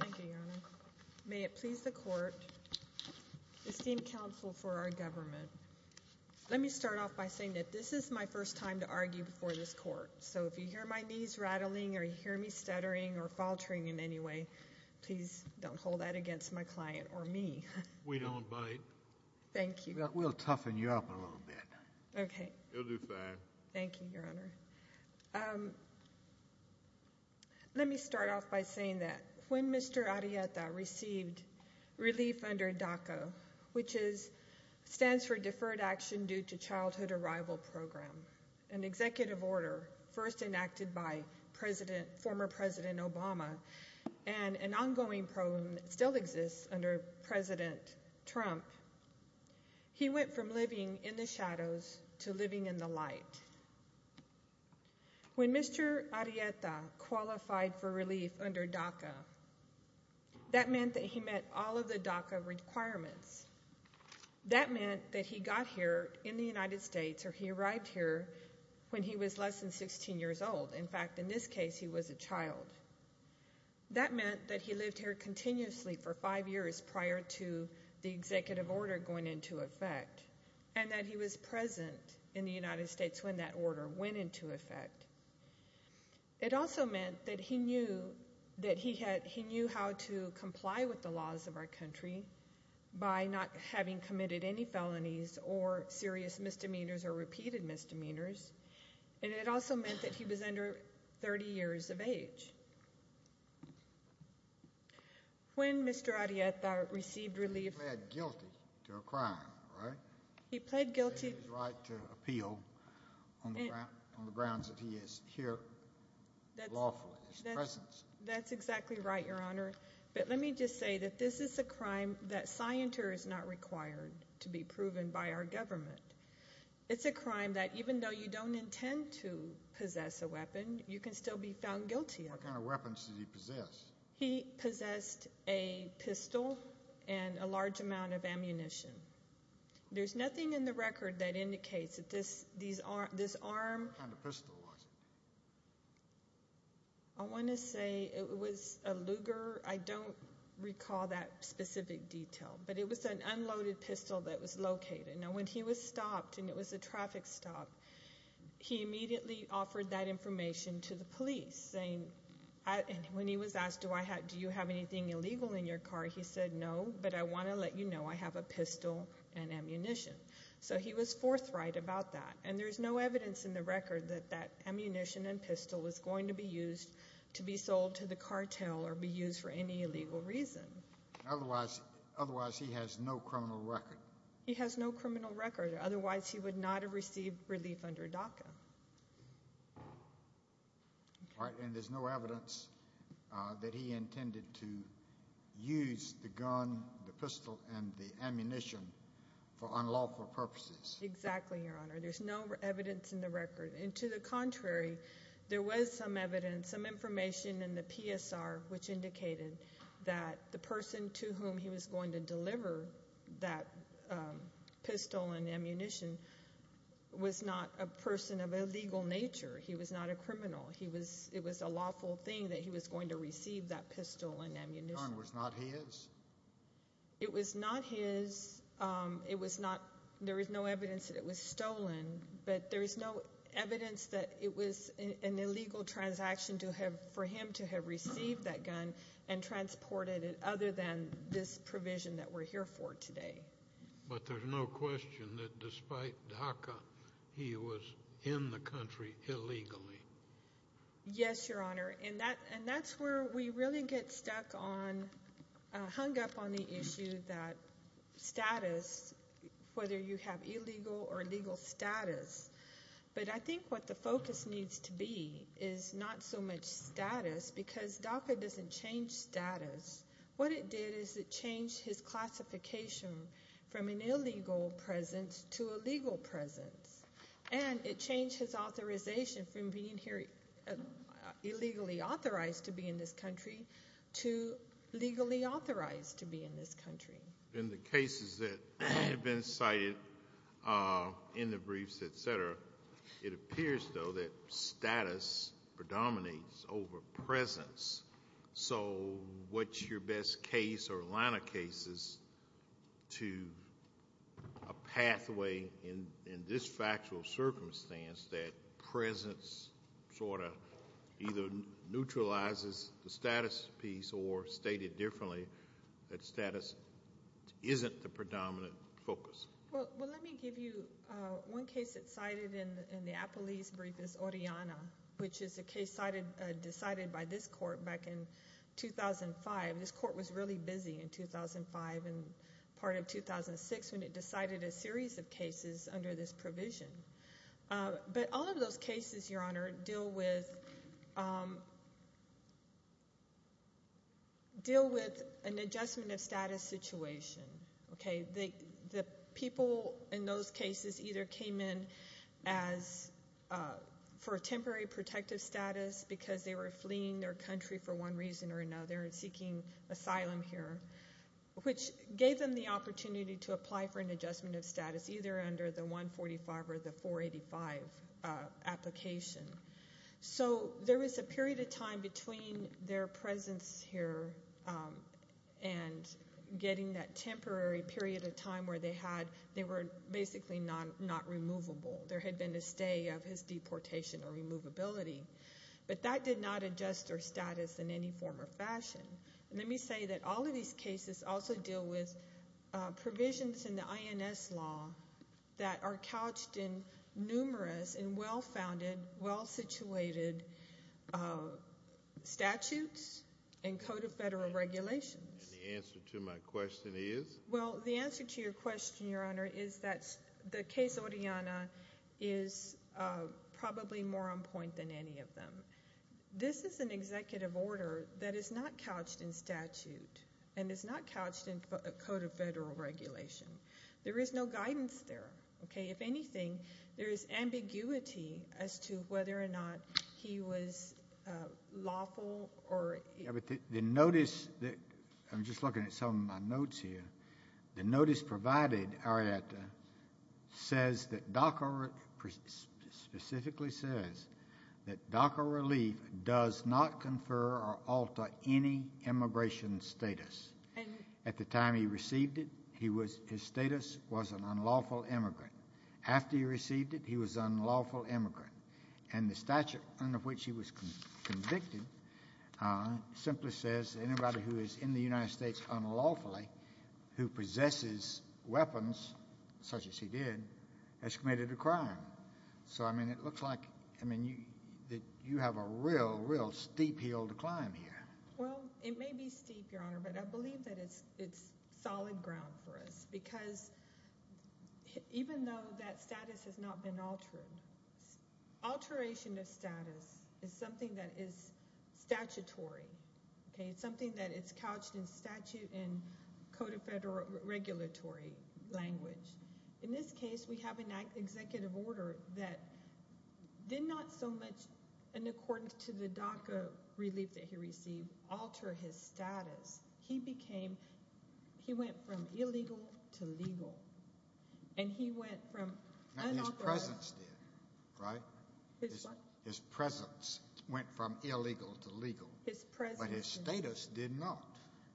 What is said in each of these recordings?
Thank you, Your Honor. May it please the Court, esteemed counsel for our government, let me start off by saying that this is my first time to argue before this Court, so if you hear my knees rattling or you hear me stuttering or faltering in any way, please don't hold that against my client or me. We don't bite. Thank you. We'll toughen you up in a little bit. Okay. You'll do fine. Thank you, Your Honor. Let me start off by saying that when Mr. Arrieta received relief under DACA, which stands for Deferred Action Due to Childhood Arrival Program, an executive order first enacted by former President Obama and an ongoing program that still exists under President Trump, he went from living in the shadows to living in the light. When Mr. Arrieta qualified for relief under DACA, that meant that he met all of the DACA requirements. That meant that he got here in the United States, or he arrived here when he was less than 16 years old. That meant that he lived here continuously for five years prior to the executive order going into effect and that he was present in the United States when that order went into effect. It also meant that he knew how to comply with the laws of our country by not having committed any felonies or serious misdemeanors or repeated misdemeanors, and it also meant that he was under 30 years of age. When Mr. Arrieta received relief— He pled guilty to a crime, right? He pled guilty— He had the right to appeal on the grounds that he is here lawfully, his presence. That's exactly right, Your Honor. But let me just say that this is a crime that scienters are not required to be proven by our government. It's a crime that even though you don't intend to possess a weapon, you can still be found guilty of it. What kind of weapons did he possess? He possessed a pistol and a large amount of ammunition. There's nothing in the record that indicates that this arm— What kind of pistol was it? I want to say it was a Luger. I don't recall that specific detail, but it was an unloaded pistol that was located. Now, when he was stopped, and it was a traffic stop, he immediately offered that information to the police, saying— When he was asked, do you have anything illegal in your car, he said, no, but I want to let you know I have a pistol and ammunition. So he was forthright about that. And there's no evidence in the record that that ammunition and pistol was going to be used to be sold to the cartel or be used for any illegal reason. Otherwise he has no criminal record. He has no criminal record. Otherwise he would not have received relief under DACA. All right. And there's no evidence that he intended to use the gun, the pistol, and the ammunition for unlawful purposes. Exactly, Your Honor. There's no evidence in the record. And to the contrary, there was some evidence, some information in the PSR which indicated that the person to whom he was going to deliver that pistol and ammunition was not a person of a legal nature. He was not a criminal. It was a lawful thing that he was going to receive that pistol and ammunition. The gun was not his? It was not his. There is no evidence that it was stolen, but there is no evidence that it was an illegal transaction for him to have received that gun and transported it other than this provision that we're here for today. But there's no question that despite DACA, he was in the country illegally. Yes, Your Honor. And that's where we really get stuck on, hung up on the issue that status, whether you have illegal or legal status. But I think what the focus needs to be is not so much status because DACA doesn't change status. What it did is it changed his classification from an illegal presence to a legal presence. And it changed his authorization from being here illegally authorized to be in this country to legally authorized to be in this country. In the cases that have been cited in the briefs, et cetera, it appears, though, that status predominates over presence. So what's your best case or line of cases to a pathway in this factual circumstance that presence sort of either neutralizes the status piece or, stated differently, that status isn't the predominant focus? Well, let me give you one case that's cited in the Apolis brief is Oriana, which is a case decided by this court back in 2005. This court was really busy in 2005 and part of 2006 when it decided a series of cases under this provision. But all of those cases, Your Honor, deal with an adjustment of status situation. The people in those cases either came in for a temporary protective status because they were fleeing their country for one reason or another and seeking asylum here, which gave them the opportunity to apply for an adjustment of status either under the 145 or the 485 application. So there was a period of time between their presence here and getting that temporary period of time where they were basically not removable. There had been a stay of his deportation or removability. But that did not adjust their status in any form or fashion. Let me say that all of these cases also deal with provisions in the INS law that are couched in numerous and well-founded, well-situated statutes and code of federal regulations. And the answer to my question is? Well, the answer to your question, Your Honor, is that the case Oriana is probably more on point than any of them. This is an executive order that is not couched in statute and is not couched in a code of federal regulation. There is no guidance there. Okay? If anything, there is ambiguity as to whether or not he was lawful. The notice that I'm just looking at some of my notes here. The notice provided, Arietta, says that DACA specifically says that DACA relief does not confer or alter any immigration status. At the time he received it, his status was an unlawful immigrant. After he received it, he was an unlawful immigrant. And the statute under which he was convicted simply says that anybody who is in the United States unlawfully, who possesses weapons such as he did, has committed a crime. So, I mean, it looks like you have a real, real steep hill to climb here. Well, it may be steep, Your Honor, but I believe that it's solid ground for us because even though that status has not been altered, alteration of status is something that is statutory. Okay? It's something that is couched in statute and code of federal regulatory language. In this case, we have an executive order that did not so much in accordance to the DACA relief that he received alter his status. He became, he went from illegal to legal. And he went from unauthorized. His presence did, right? His what? His presence went from illegal to legal. His presence did. But his status did not.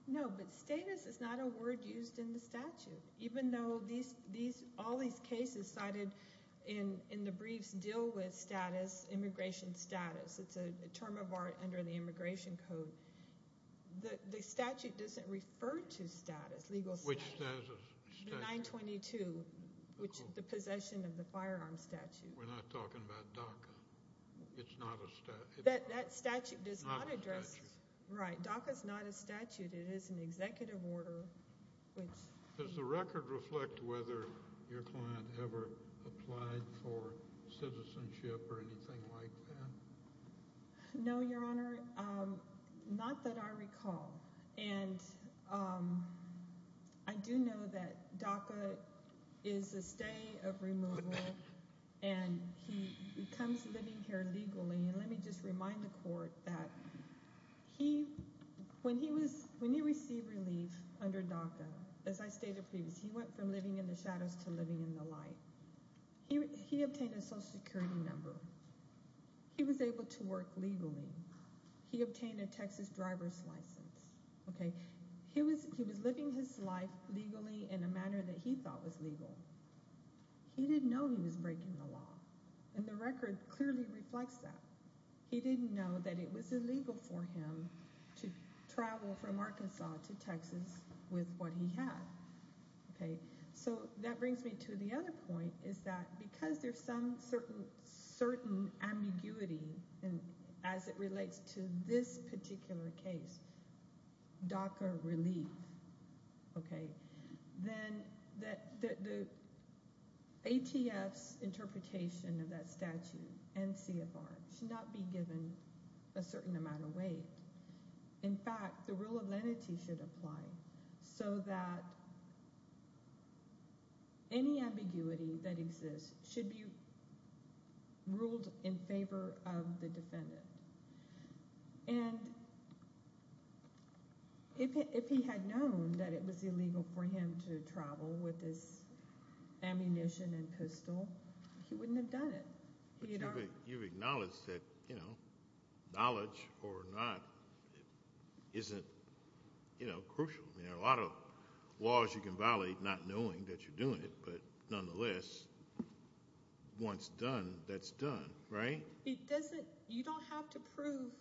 No, but status is not a word used in the statute. Even though all these cases cited in the briefs deal with status, immigration status. It's a term of art under the immigration code. The statute doesn't refer to status, legal status. Which status? The 922, which is the possession of the firearm statute. We're not talking about DACA. It's not a statute. That statute does not address. It's not a statute. Right. DACA is not a statute. It is an executive order. Does the record reflect whether your client ever applied for citizenship or anything like that? No, Your Honor. Not that I recall. And I do know that DACA is a stay of removal. And he comes living here legally. And let me just remind the court that he, when he was, when he received relief under DACA, as I stated previously, he went from living in the shadows to living in the light. He obtained a social security number. He was able to work legally. He obtained a Texas driver's license. He was living his life legally in a manner that he thought was legal. He didn't know he was breaking the law. And the record clearly reflects that. He didn't know that it was illegal for him to travel from Arkansas to Texas with what he had. Okay. So that brings me to the other point, is that because there's some certain ambiguity as it relates to this particular case, DACA relief, okay, then the ATF's interpretation of that statute and CFR should not be given a certain amount of weight. In fact, the rule of lenity should apply so that any ambiguity that exists should be ruled in favor of the defendant. And if he had known that it was illegal for him to travel with his ammunition and pistol, he wouldn't have done it. But you've acknowledged that knowledge or not isn't crucial. There are a lot of laws you can violate not knowing that you're doing it, but nonetheless, once done, that's done, right? You don't have to prove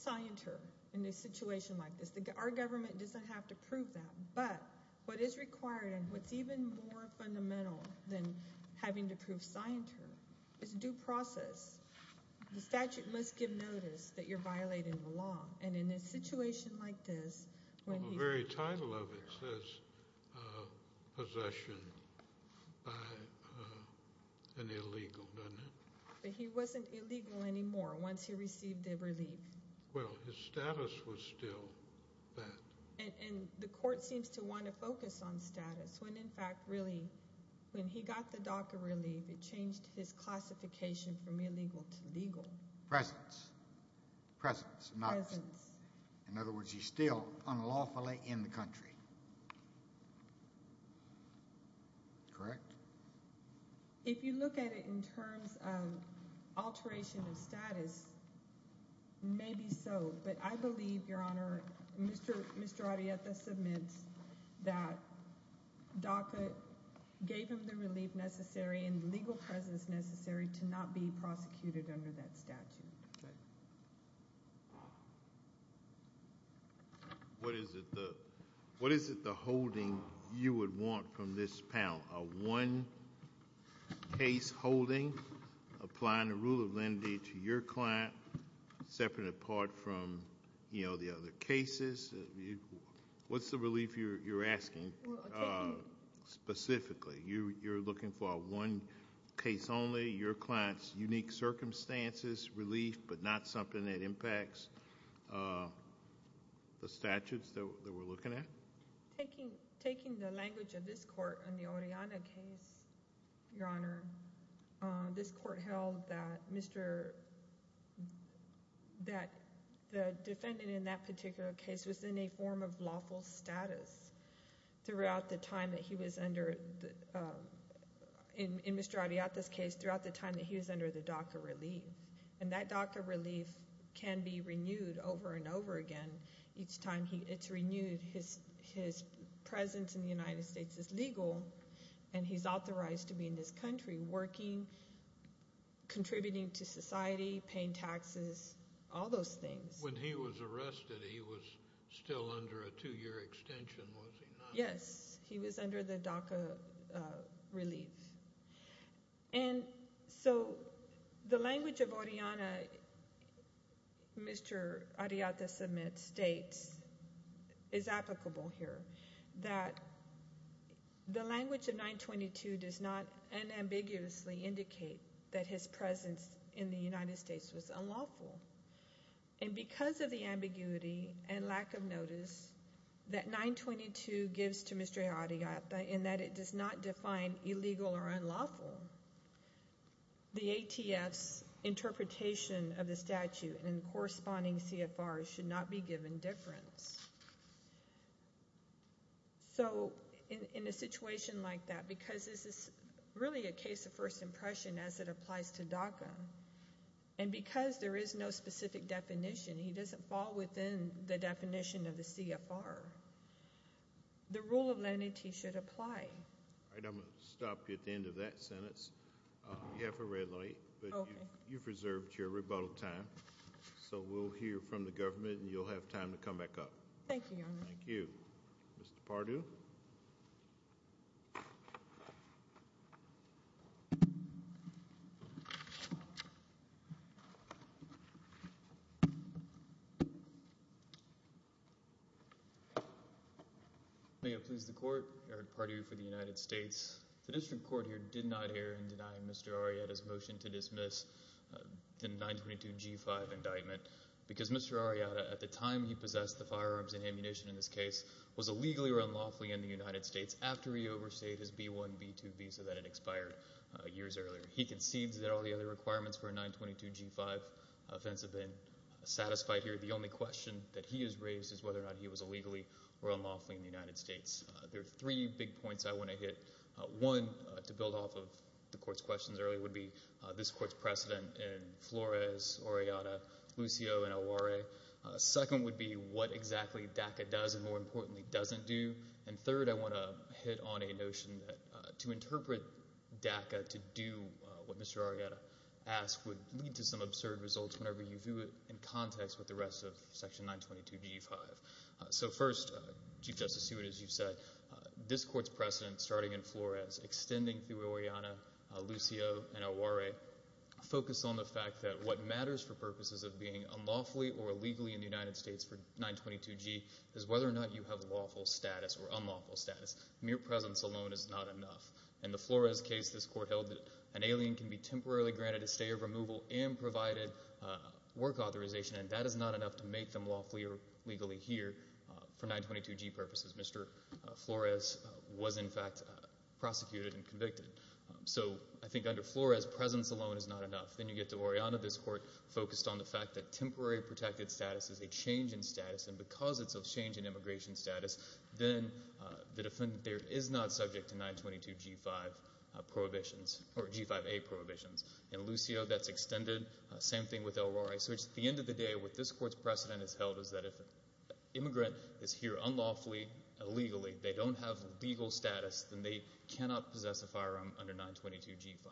scienter in a situation like this. Our government doesn't have to prove that. But what is required and what's even more fundamental than having to prove scienter is due process. The statute must give notice that you're violating the law. And in a situation like this, when he's- The very title of it says possession by an illegal, doesn't it? But he wasn't illegal anymore once he received the relief. Well, his status was still that. And the court seems to want to focus on status when, in fact, really, when he got the DACA relief, it changed his classification from illegal to legal. Presence. Presence. Presence. In other words, he's still unlawfully in the country. Correct? If you look at it in terms of alteration of status, maybe so. But I believe, Your Honor, Mr. Arrieta submits that DACA gave him the relief necessary and legal presence necessary to not be prosecuted under that statute. What is it the holding you would want from this panel? A one-case holding, applying the rule of lenity to your client, separate and apart from, you know, the other cases? What's the relief you're asking specifically? You're looking for a one-case only, your client's unique circumstances relief, but not something that impacts the statutes that we're looking at? Taking the language of this court in the Oriana case, Your Honor, this court held that Mr. – that the defendant in that particular case was in a form of lawful status throughout the time that he was under – his presence in the United States is legal and he's authorized to be in this country working, contributing to society, paying taxes, all those things. When he was arrested, he was still under a two-year extension, was he not? Yes, he was under the DACA relief. And so the language of Oriana, Mr. Arrieta submits, states, is applicable here, that the language of 922 does not unambiguously indicate that his presence in the United States was unlawful. And because of the ambiguity and lack of notice that 922 gives to Mr. Arrieta in that it does not define illegal or unlawful, the ATF's interpretation of the statute and corresponding CFRs should not be given difference. So in a situation like that, because this is really a case of first impression as it applies to DACA, and because there is no specific definition, he doesn't fall within the definition of the CFR, the rule of lenity should apply. All right, I'm going to stop you at the end of that sentence. You have a red light, but you've reserved your rebuttal time. So we'll hear from the government, and you'll have time to come back up. Thank you, Your Honor. Thank you. Mr. Pardue? May it please the Court, Eric Pardue for the United States. The district court here did not err in denying Mr. Arrieta's motion to dismiss the 922 G-5 indictment because Mr. Arrieta, at the time he possessed the firearms and ammunition in this case, was illegally or unlawfully in the United States after he overstayed his B-1, B-2 visa that had expired years earlier. He concedes that all the other requirements for a 922 G-5 offense have been satisfied here. The only question that he has raised is whether or not he was illegally or unlawfully in the United States. There are three big points I want to hit. One, to build off of the Court's questions earlier, would be this Court's precedent in Flores, Arrieta, Lucio, and Aware. Second would be what exactly DACA does and, more importantly, doesn't do. And third, I want to hit on a notion that to interpret DACA to do what Mr. Arrieta asked would lead to some absurd results whenever you view it in context with the rest of Section 922 G-5. So first, Chief Justice Stewart, as you said, this Court's precedent, starting in Flores, extending through Arrieta, Lucio, and Aware, focused on the fact that what matters for purposes of being unlawfully or illegally in the United States for 922 G is whether or not you have lawful status or unlawful status. Mere presence alone is not enough. In the Flores case, this Court held that an alien can be temporarily granted a stay of removal and provided work authorization, and that is not enough to make them lawfully or legally here for 922 G purposes. Mr. Flores was, in fact, prosecuted and convicted. So I think under Flores, presence alone is not enough. Then you get to Oriana. This Court focused on the fact that temporary protected status is a change in status, and because it's a change in immigration status, then the defendant there is not subject to 922 G-5 prohibitions or G-5A prohibitions. In Lucio, that's extended. Same thing with Aware. So it's at the end of the day what this Court's precedent has held is that if an immigrant is here unlawfully, illegally, they don't have legal status, then they cannot possess a firearm under 922 G-5.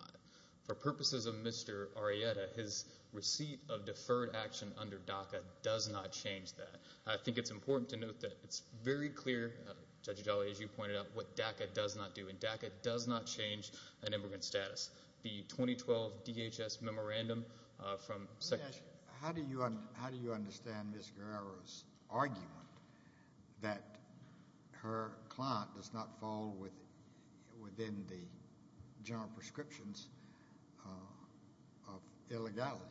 For purposes of Mr. Arrieta, his receipt of deferred action under DACA does not change that. I think it's important to note that it's very clear, Judge Adelli, as you pointed out, what DACA does not do, and DACA does not change an immigrant's status. The 2012 DHS memorandum from— Judge, how do you understand Ms. Guerrero's argument that her client does not fall within the general prescriptions of illegality?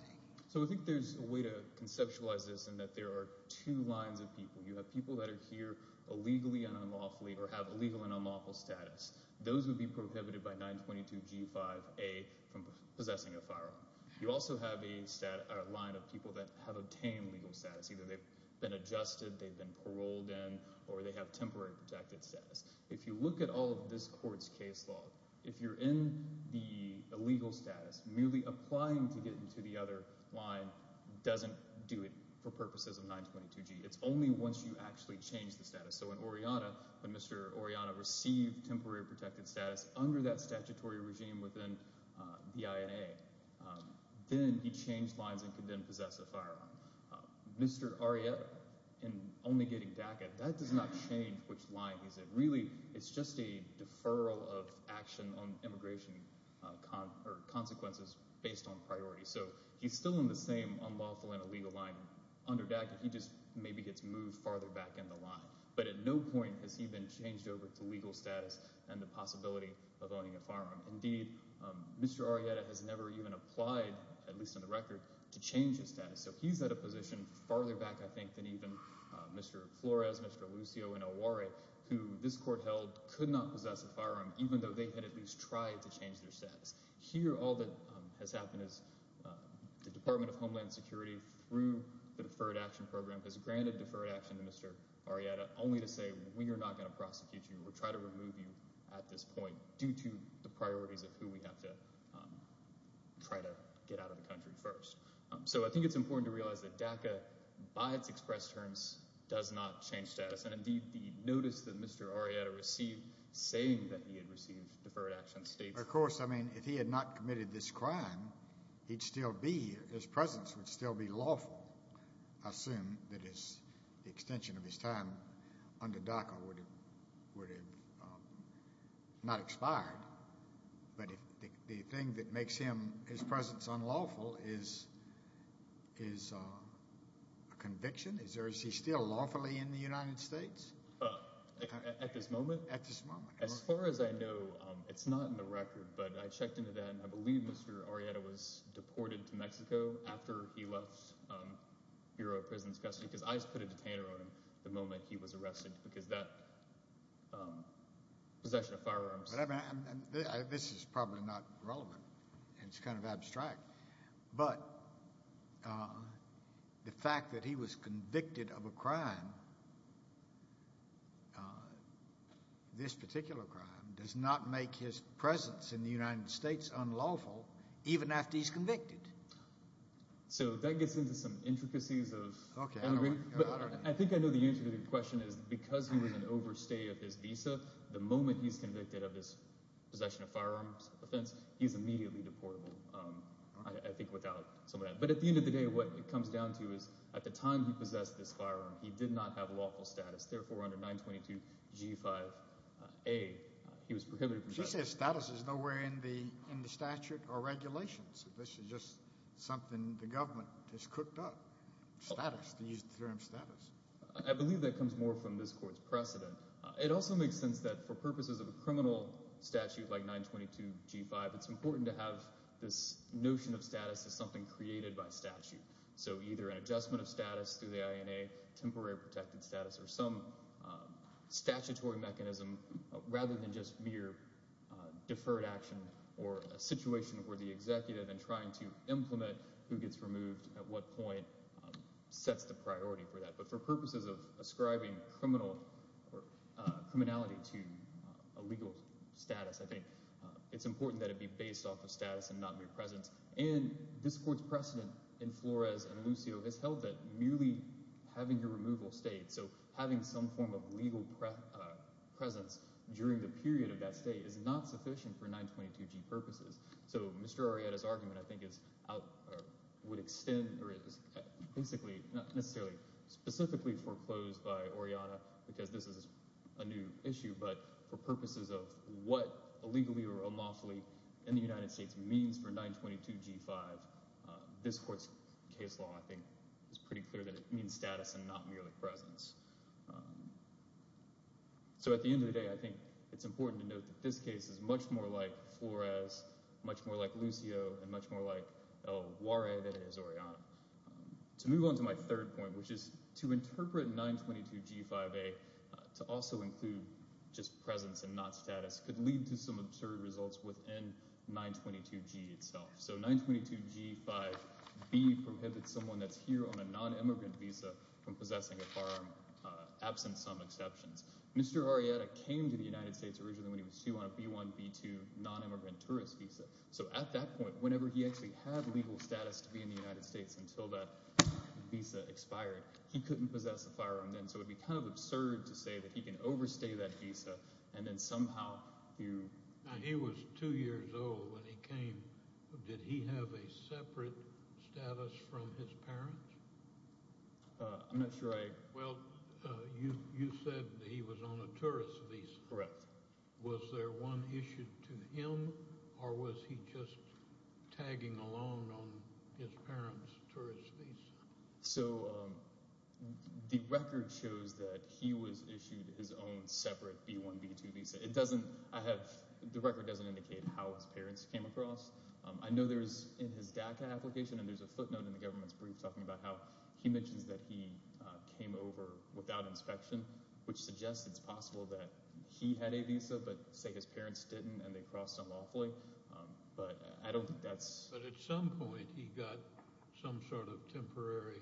So I think there's a way to conceptualize this in that there are two lines of people. You have people that are here illegally and unlawfully or have illegal and unlawful status. Those would be prohibited by 922 G-5A from possessing a firearm. You also have a line of people that have obtained legal status. Either they've been adjusted, they've been paroled in, or they have temporary protected status. If you look at all of this Court's case law, if you're in the illegal status, merely applying to get into the other line doesn't do it for purposes of 922 G. So in Oriana, when Mr. Oriana received temporary protected status under that statutory regime within the INA, then he changed lines and could then possess a firearm. Mr. Arrieta, in only getting DACA, that does not change which line he's in. Really, it's just a deferral of action on immigration consequences based on priority. So he's still in the same unlawful and illegal line under DACA. He just maybe gets moved farther back in the line. But at no point has he been changed over to legal status and the possibility of owning a firearm. Indeed, Mr. Arrieta has never even applied, at least on the record, to change his status. So he's at a position farther back, I think, than even Mr. Flores, Mr. Lucio, and Aware, who this Court held could not possess a firearm even though they had at least tried to change their status. Here, all that has happened is the Department of Homeland Security, through the Deferred Action Program, has granted deferred action to Mr. Arrieta only to say, we are not going to prosecute you or try to remove you at this point due to the priorities of who we have to try to get out of the country first. So I think it's important to realize that DACA, by its express terms, does not change status. And indeed, the notice that Mr. Arrieta received saying that he had received deferred action states— Of course. I mean, if he had not committed this crime, he'd still be—his presence would still be lawful. I assume that the extension of his time under DACA would have not expired. But the thing that makes his presence unlawful is a conviction? Is he still lawfully in the United States? At this moment? At this moment. As far as I know, it's not in the record, but I checked into that, and I believe Mr. Arrieta was deported to Mexico after he left Bureau of Prison's custody because I just put a detainer on him the moment he was arrested because that possession of firearms— This is probably not relevant. It's kind of abstract. But the fact that he was convicted of a crime, this particular crime, does not make his presence in the United States unlawful even after he's convicted. So that gets into some intricacies of— Okay. I think I know the answer to your question is because he was an overstay of his visa, the moment he's convicted of this possession of firearms offense, he's immediately deportable, I think, without some of that. But at the end of the day, what it comes down to is at the time he possessed this firearm, he did not have lawful status. Therefore, under 922G5A, he was prohibited from— But you said status is nowhere in the statute or regulations. This is just something the government has cooked up, status, to use the term status. I believe that comes more from this court's precedent. It also makes sense that for purposes of a criminal statute like 922G5, it's important to have this notion of status as something created by statute. So either an adjustment of status through the INA, temporary protected status, or some statutory mechanism rather than just mere deferred action or a situation where the executive in trying to implement who gets removed at what point sets the priority for that. But for purposes of ascribing criminality to a legal status, I think it's important that it be based off of status and not mere presence. And this court's precedent in Flores and Lucio has held that merely having a removal state, so having some form of legal presence during the period of that state, is not sufficient for 922G purposes. So Mr. Orieta's argument, I think, would extend— basically, not necessarily specifically foreclosed by Orieta because this is a new issue, but for purposes of what illegally or unlawfully in the United States means for 922G5, this court's case law, I think, is pretty clear that it means status and not merely presence. So at the end of the day, I think it's important to note that this case is much more like Flores, much more like Lucio, and much more like El Juare than it is Orieta. To move on to my third point, which is to interpret 922G5A to also include just presence and not status could lead to some absurd results within 922G itself. So 922G5B prohibits someone that's here on a non-immigrant visa from possessing a firearm, absent some exceptions. Mr. Orieta came to the United States originally when he was two on a B1, B2 non-immigrant tourist visa. So at that point, whenever he actually had legal status to be in the United States until that visa expired, he couldn't possess a firearm then, so it would be kind of absurd to say that he can overstay that visa and then somehow— He was two years old when he came. Did he have a separate status from his parents? I'm not sure I— Well, you said he was on a tourist visa. Correct. Was there one issued to him, or was he just tagging along on his parents' tourist visa? So the record shows that he was issued his own separate B1, B2 visa. It doesn't—I have—the record doesn't indicate how his parents came across. I know there is, in his DACA application, and there's a footnote in the government's brief talking about how he mentions that he came over without inspection, which suggests it's possible that he had a visa but, say, his parents didn't and they crossed unlawfully. But I don't think that's— But at some point, he got some sort of temporary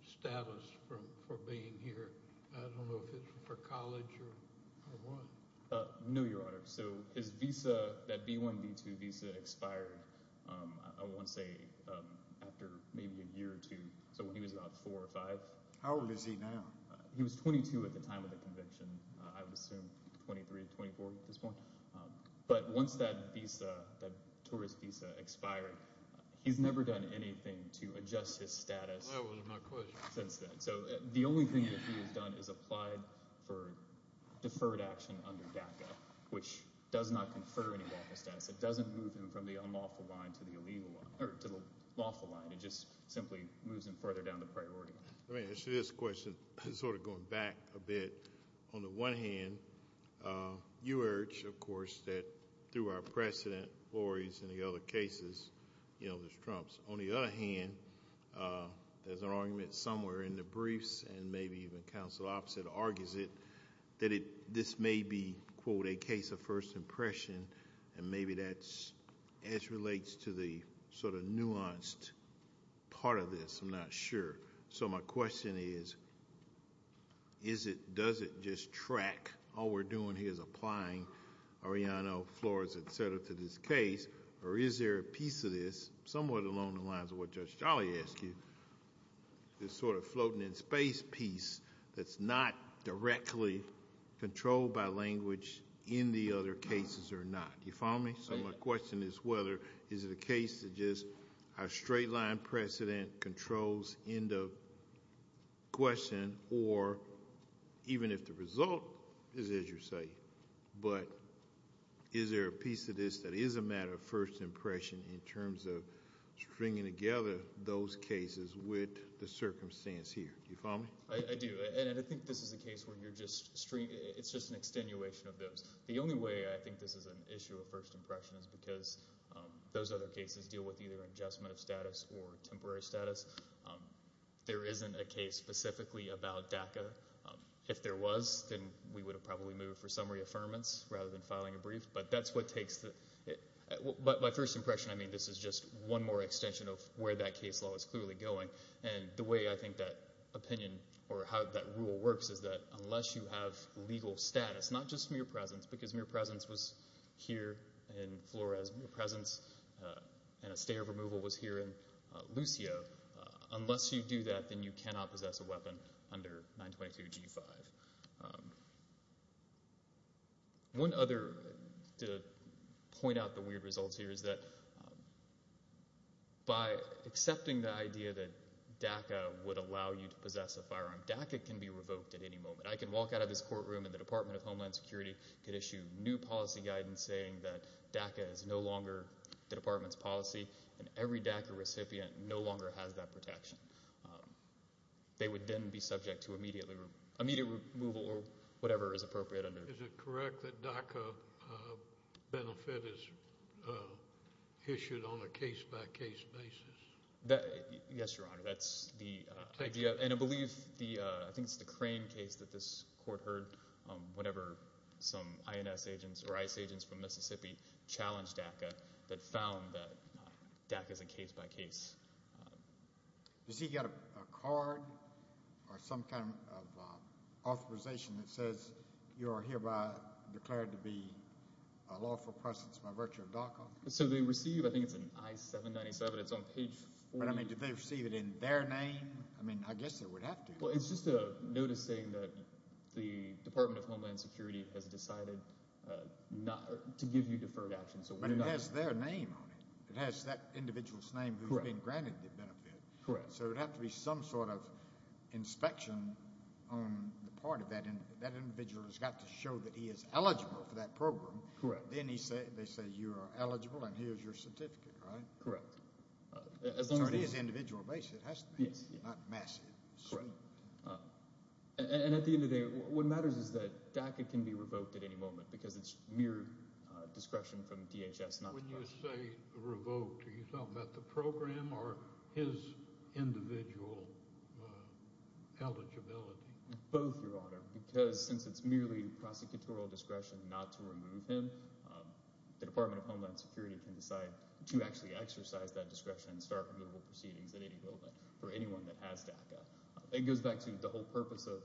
status for being here. I don't know if it's for college or what. No, Your Honor. So his visa, that B1, B2 visa expired, I want to say, after maybe a year or two, so when he was about four or five. How old is he now? He was 22 at the time of the conviction. I would assume 23 or 24 at this point. But once that tourist visa expired, he's never done anything to adjust his status since then. So the only thing that he has done is applied for deferred action under DACA, which does not confer any lawful status. It doesn't move him from the unlawful line to the lawful line. It just simply moves him further down the priority line. Let me answer this question sort of going back a bit. On the one hand, you urge, of course, that through our precedent, Laurie's and the other cases, there's Trump's. On the other hand, there's an argument somewhere in the briefs and maybe even counsel opposite argues it, that this may be, quote, a case of first impression, and maybe that's as relates to the sort of nuanced part of this. I'm not sure. So my question is, does it just track? All we're doing here is applying Arellano, Flores, et cetera, to this case. Or is there a piece of this, somewhat along the lines of what Judge Jolly asked you, this sort of floating in space piece that's not directly controlled by language in the other cases or not? You follow me? So my question is whether is it a case that just has straight-line precedent controls end of question, or even if the result is as you say, but is there a piece of this that is a matter of first impression in terms of stringing together those cases with the circumstance here? Do you follow me? I do. And I think this is a case where it's just an extenuation of those. The only way I think this is an issue of first impression is because those other cases deal with either adjustment of status or temporary status. There isn't a case specifically about DACA. If there was, then we would have probably moved for summary affirmance rather than filing a brief. But my first impression, I mean, this is just one more extension of where that case law is clearly going. And the way I think that opinion or how that rule works is that unless you have legal status, not just mere presence because mere presence was here in Flores, mere presence in a state of removal was here in Lucio. Unless you do that, then you cannot possess a weapon under 922G5. One other, to point out the weird results here, is that by accepting the idea that DACA would allow you to possess a firearm, DACA can be revoked at any moment. I can walk out of this courtroom and the Department of Homeland Security could issue new policy guidance saying that DACA is no longer the department's policy and every DACA recipient no longer has that protection. They would then be subject to immediate removal or whatever is appropriate. Is it correct that DACA benefit is issued on a case-by-case basis? Yes, Your Honor, that's the idea. And I believe, I think it's the Crane case that this court heard whenever some INS agents or ICE agents from Mississippi challenged DACA that found that DACA is a case-by-case. Does he get a card or some kind of authorization that says you are hereby declared to be a lawful presence by virtue of DACA? So they receive, I think it's in I-797, it's on page 4. But, I mean, do they receive it in their name? I mean, I guess they would have to. Well, it's just a notice saying that the Department of Homeland Security has decided to give you deferred action. But it has their name on it. It has that individual's name who's being granted the benefit. Correct. So there would have to be some sort of inspection on the part of that individual who's got to show that he is eligible for that program. Then they say you are eligible and here's your certificate, right? Correct. So it is an individual basis. It has to be, not massive. And at the end of the day, what matters is that DACA can be revoked at any moment because it's mere discretion from DHS. When you say revoked, are you talking about the program or his individual eligibility? Both, Your Honor, because since it's merely prosecutorial discretion not to remove him, the Department of Homeland Security can decide to actually exercise that discretion and start liberal proceedings at any moment for anyone that has DACA. It goes back to the whole purpose of—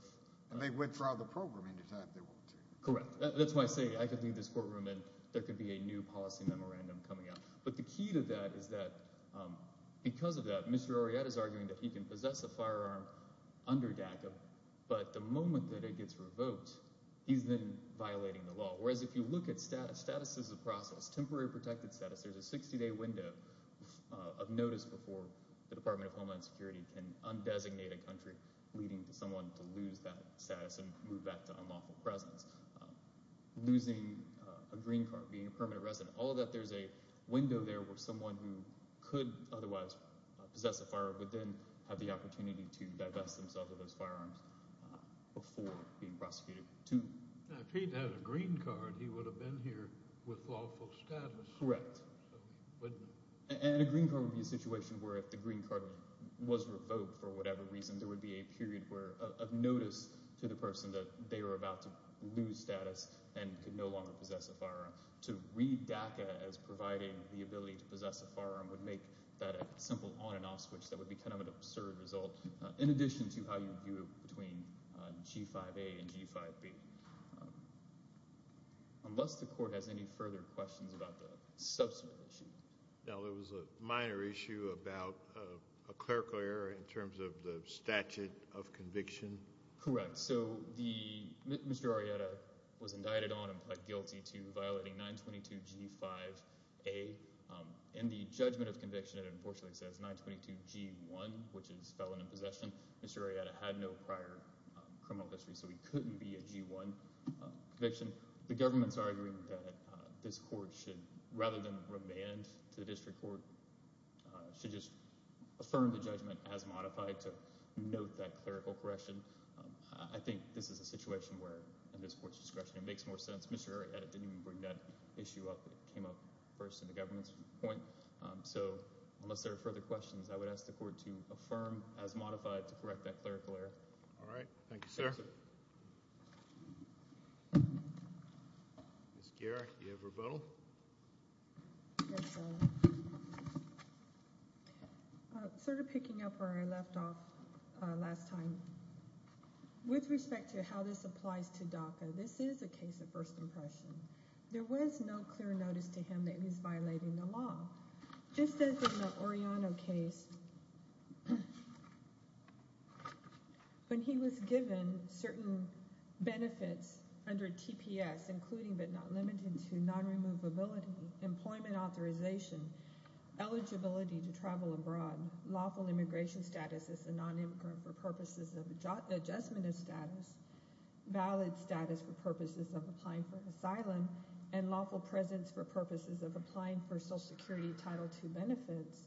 And they withdraw the program any time they want to. Correct. That's why I say I could leave this courtroom and there could be a new policy memorandum coming out. But the key to that is that because of that, Mr. Orieta is arguing that he can possess a firearm under DACA, but the moment that it gets revoked, he's then violating the law. Whereas if you look at status as a process, temporary protected status, there's a 60-day window of notice before the Department of Homeland Security can undesignate a country, leading someone to lose that status and move back to unlawful presence. Losing a green card, being a permanent resident, all of that there's a window there where someone who could otherwise possess a firearm would then have the opportunity to divest themselves of those firearms before being prosecuted. If he'd had a green card, he would have been here with lawful status. Correct. And a green card would be a situation where if the green card was revoked for whatever reason, there would be a period of notice to the person that they were about to lose status and could no longer possess a firearm. To read DACA as providing the ability to possess a firearm would make that a simple on and off switch that would be kind of an absurd result, in addition to how you view it between G5A and G5B. Unless the court has any further questions about the subsequent issue. No, there was a minor issue about a clerical error in terms of the statute of conviction. Correct. So Mr. Arrieta was indicted on and pled guilty to violating 922G5A. In the judgment of conviction, it unfortunately says 922G1, which is felon in possession. Mr. Arrieta had no prior criminal history, so he couldn't be a G1 conviction. The government's arguing that this court should, rather than remand to the district court, should just affirm the judgment as modified to note that clerical correction. I think this is a situation where, in this court's discretion, it makes more sense. Mr. Arrieta didn't even bring that issue up. It came up first in the government's point. So unless there are further questions, I would ask the court to affirm as modified to correct that clerical error. All right. Thank you, sir. Ms. Geer, do you have rebuttal? Yes, sir. Sort of picking up where I left off last time, with respect to how this applies to DACA, this is a case of first impression. There was no clear notice to him that he was violating the law. Just as in the Oriano case, when he was given certain benefits under TPS, including but not limited to non-removability, employment authorization, eligibility to travel abroad, lawful immigration status as a non-immigrant for purposes of adjustment of status, valid status for purposes of applying for asylum, and lawful presence for purposes of applying for Social Security Title II benefits,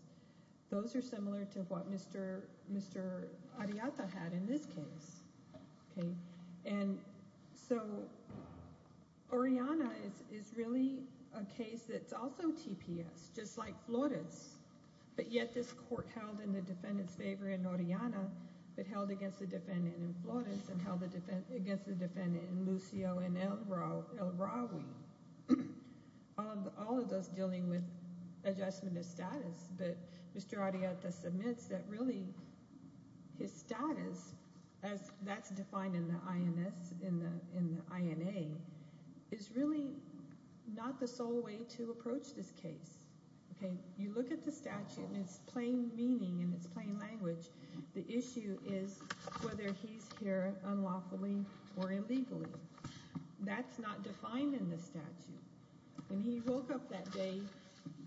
those are similar to what Mr. Arrieta had in this case. And so Oriana is really a case that's also TPS, just like Flores. But yet this court held in the defendant's favor in Oriana, but held against the defendant in Flores, and held against the defendant in Lucio and El Rawi, all of those dealing with adjustment of status. But Mr. Arrieta submits that really his status, as that's defined in the INS, in the INA, is really not the sole way to approach this case. You look at the statute and its plain meaning and its plain language, the issue is whether he's here unlawfully or illegally. That's not defined in the statute. When he woke up that day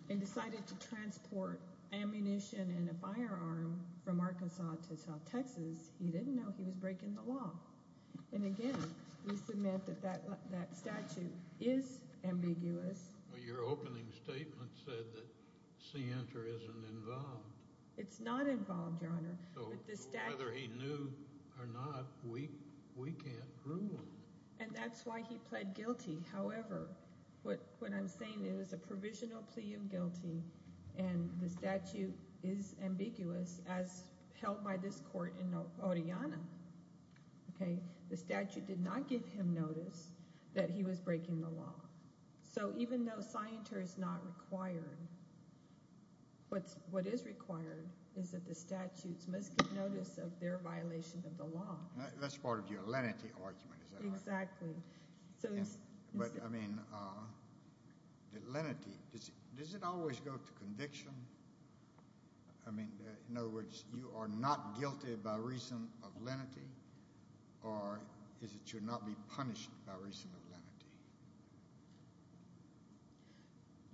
and decided to transport ammunition and a firearm from Arkansas to South Texas, he didn't know he was breaking the law. And again, we submit that that statute is ambiguous. Your opening statement said that Sienta isn't involved. It's not involved, Your Honor. So whether he knew or not, we can't rule on it. And that's why he pled guilty. However, what I'm saying is it was a provisional plea of guilty, and the statute is ambiguous as held by this court in Oriana. The statute did not give him notice that he was breaking the law. So even though Sienta is not required, what is required is that the statutes must get notice of their violation of the law. That's part of your lenity argument, is that right? Exactly. But, I mean, lenity, does it always go to conviction? I mean, in other words, you are not guilty by reason of lenity, or is it you're not being punished by reason of lenity?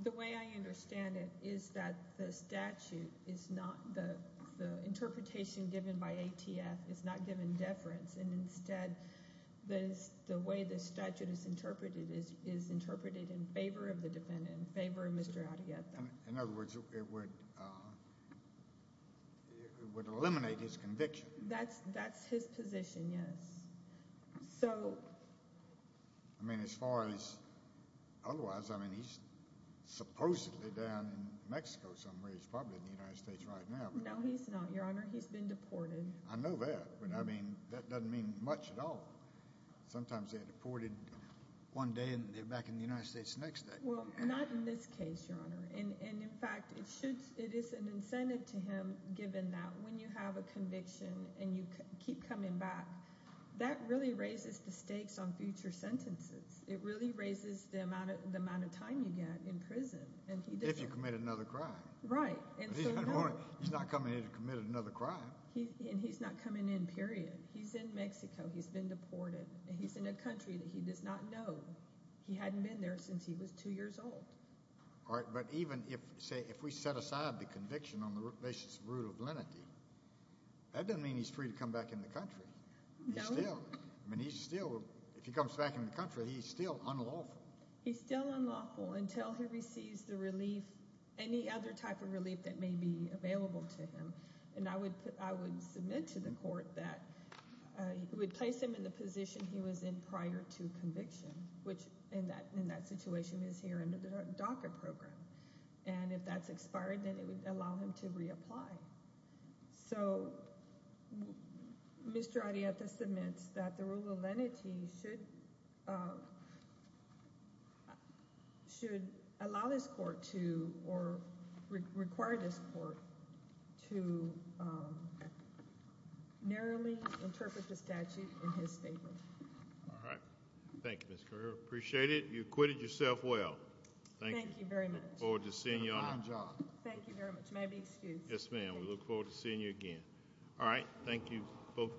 The way I understand it is that the statute is not the interpretation given by ATF is not given deference, and instead the way the statute is interpreted is interpreted in favor of the defendant, in favor of Mr. Arrietta. In other words, it would eliminate his conviction. That's his position, yes. I mean, as far as otherwise, I mean, he's supposedly down in Mexico somewhere. He's probably in the United States right now. No, he's not, Your Honor. He's been deported. I know that, but, I mean, that doesn't mean much at all. Sometimes they're deported one day and they're back in the United States the next day. Well, not in this case, Your Honor. And, in fact, it is an incentive to him given that when you have a conviction and you keep coming back, that really raises the stakes on future sentences. It really raises the amount of time you get in prison. If you commit another crime. Right. He's not coming in to commit another crime. And he's not coming in, period. He's in Mexico. He's been deported. He's in a country that he does not know. He hadn't been there since he was two years old. All right. But even if, say, if we set aside the conviction on the basis of root of lenity, that doesn't mean he's free to come back in the country. No. He's still, I mean, he's still, if he comes back in the country, he's still unlawful. He's still unlawful until he receives the relief, any other type of relief that may be available to him. And I would submit to the court that we place him in the position he was in prior to conviction, which in that situation is here under the DACA program. And if that's expired, then it would allow him to reapply. So Mr. Arianta submits that the rule of lenity should allow this court to, or require this court to narrowly interpret the statute in his favor. All right. Thank you, Ms. Carrera. Appreciate it. You acquitted yourself well. Thank you. I look forward to seeing you all. Good job. Thank you very much. May I be excused? Yes, ma'am. We look forward to seeing you again. All right. Thank you both.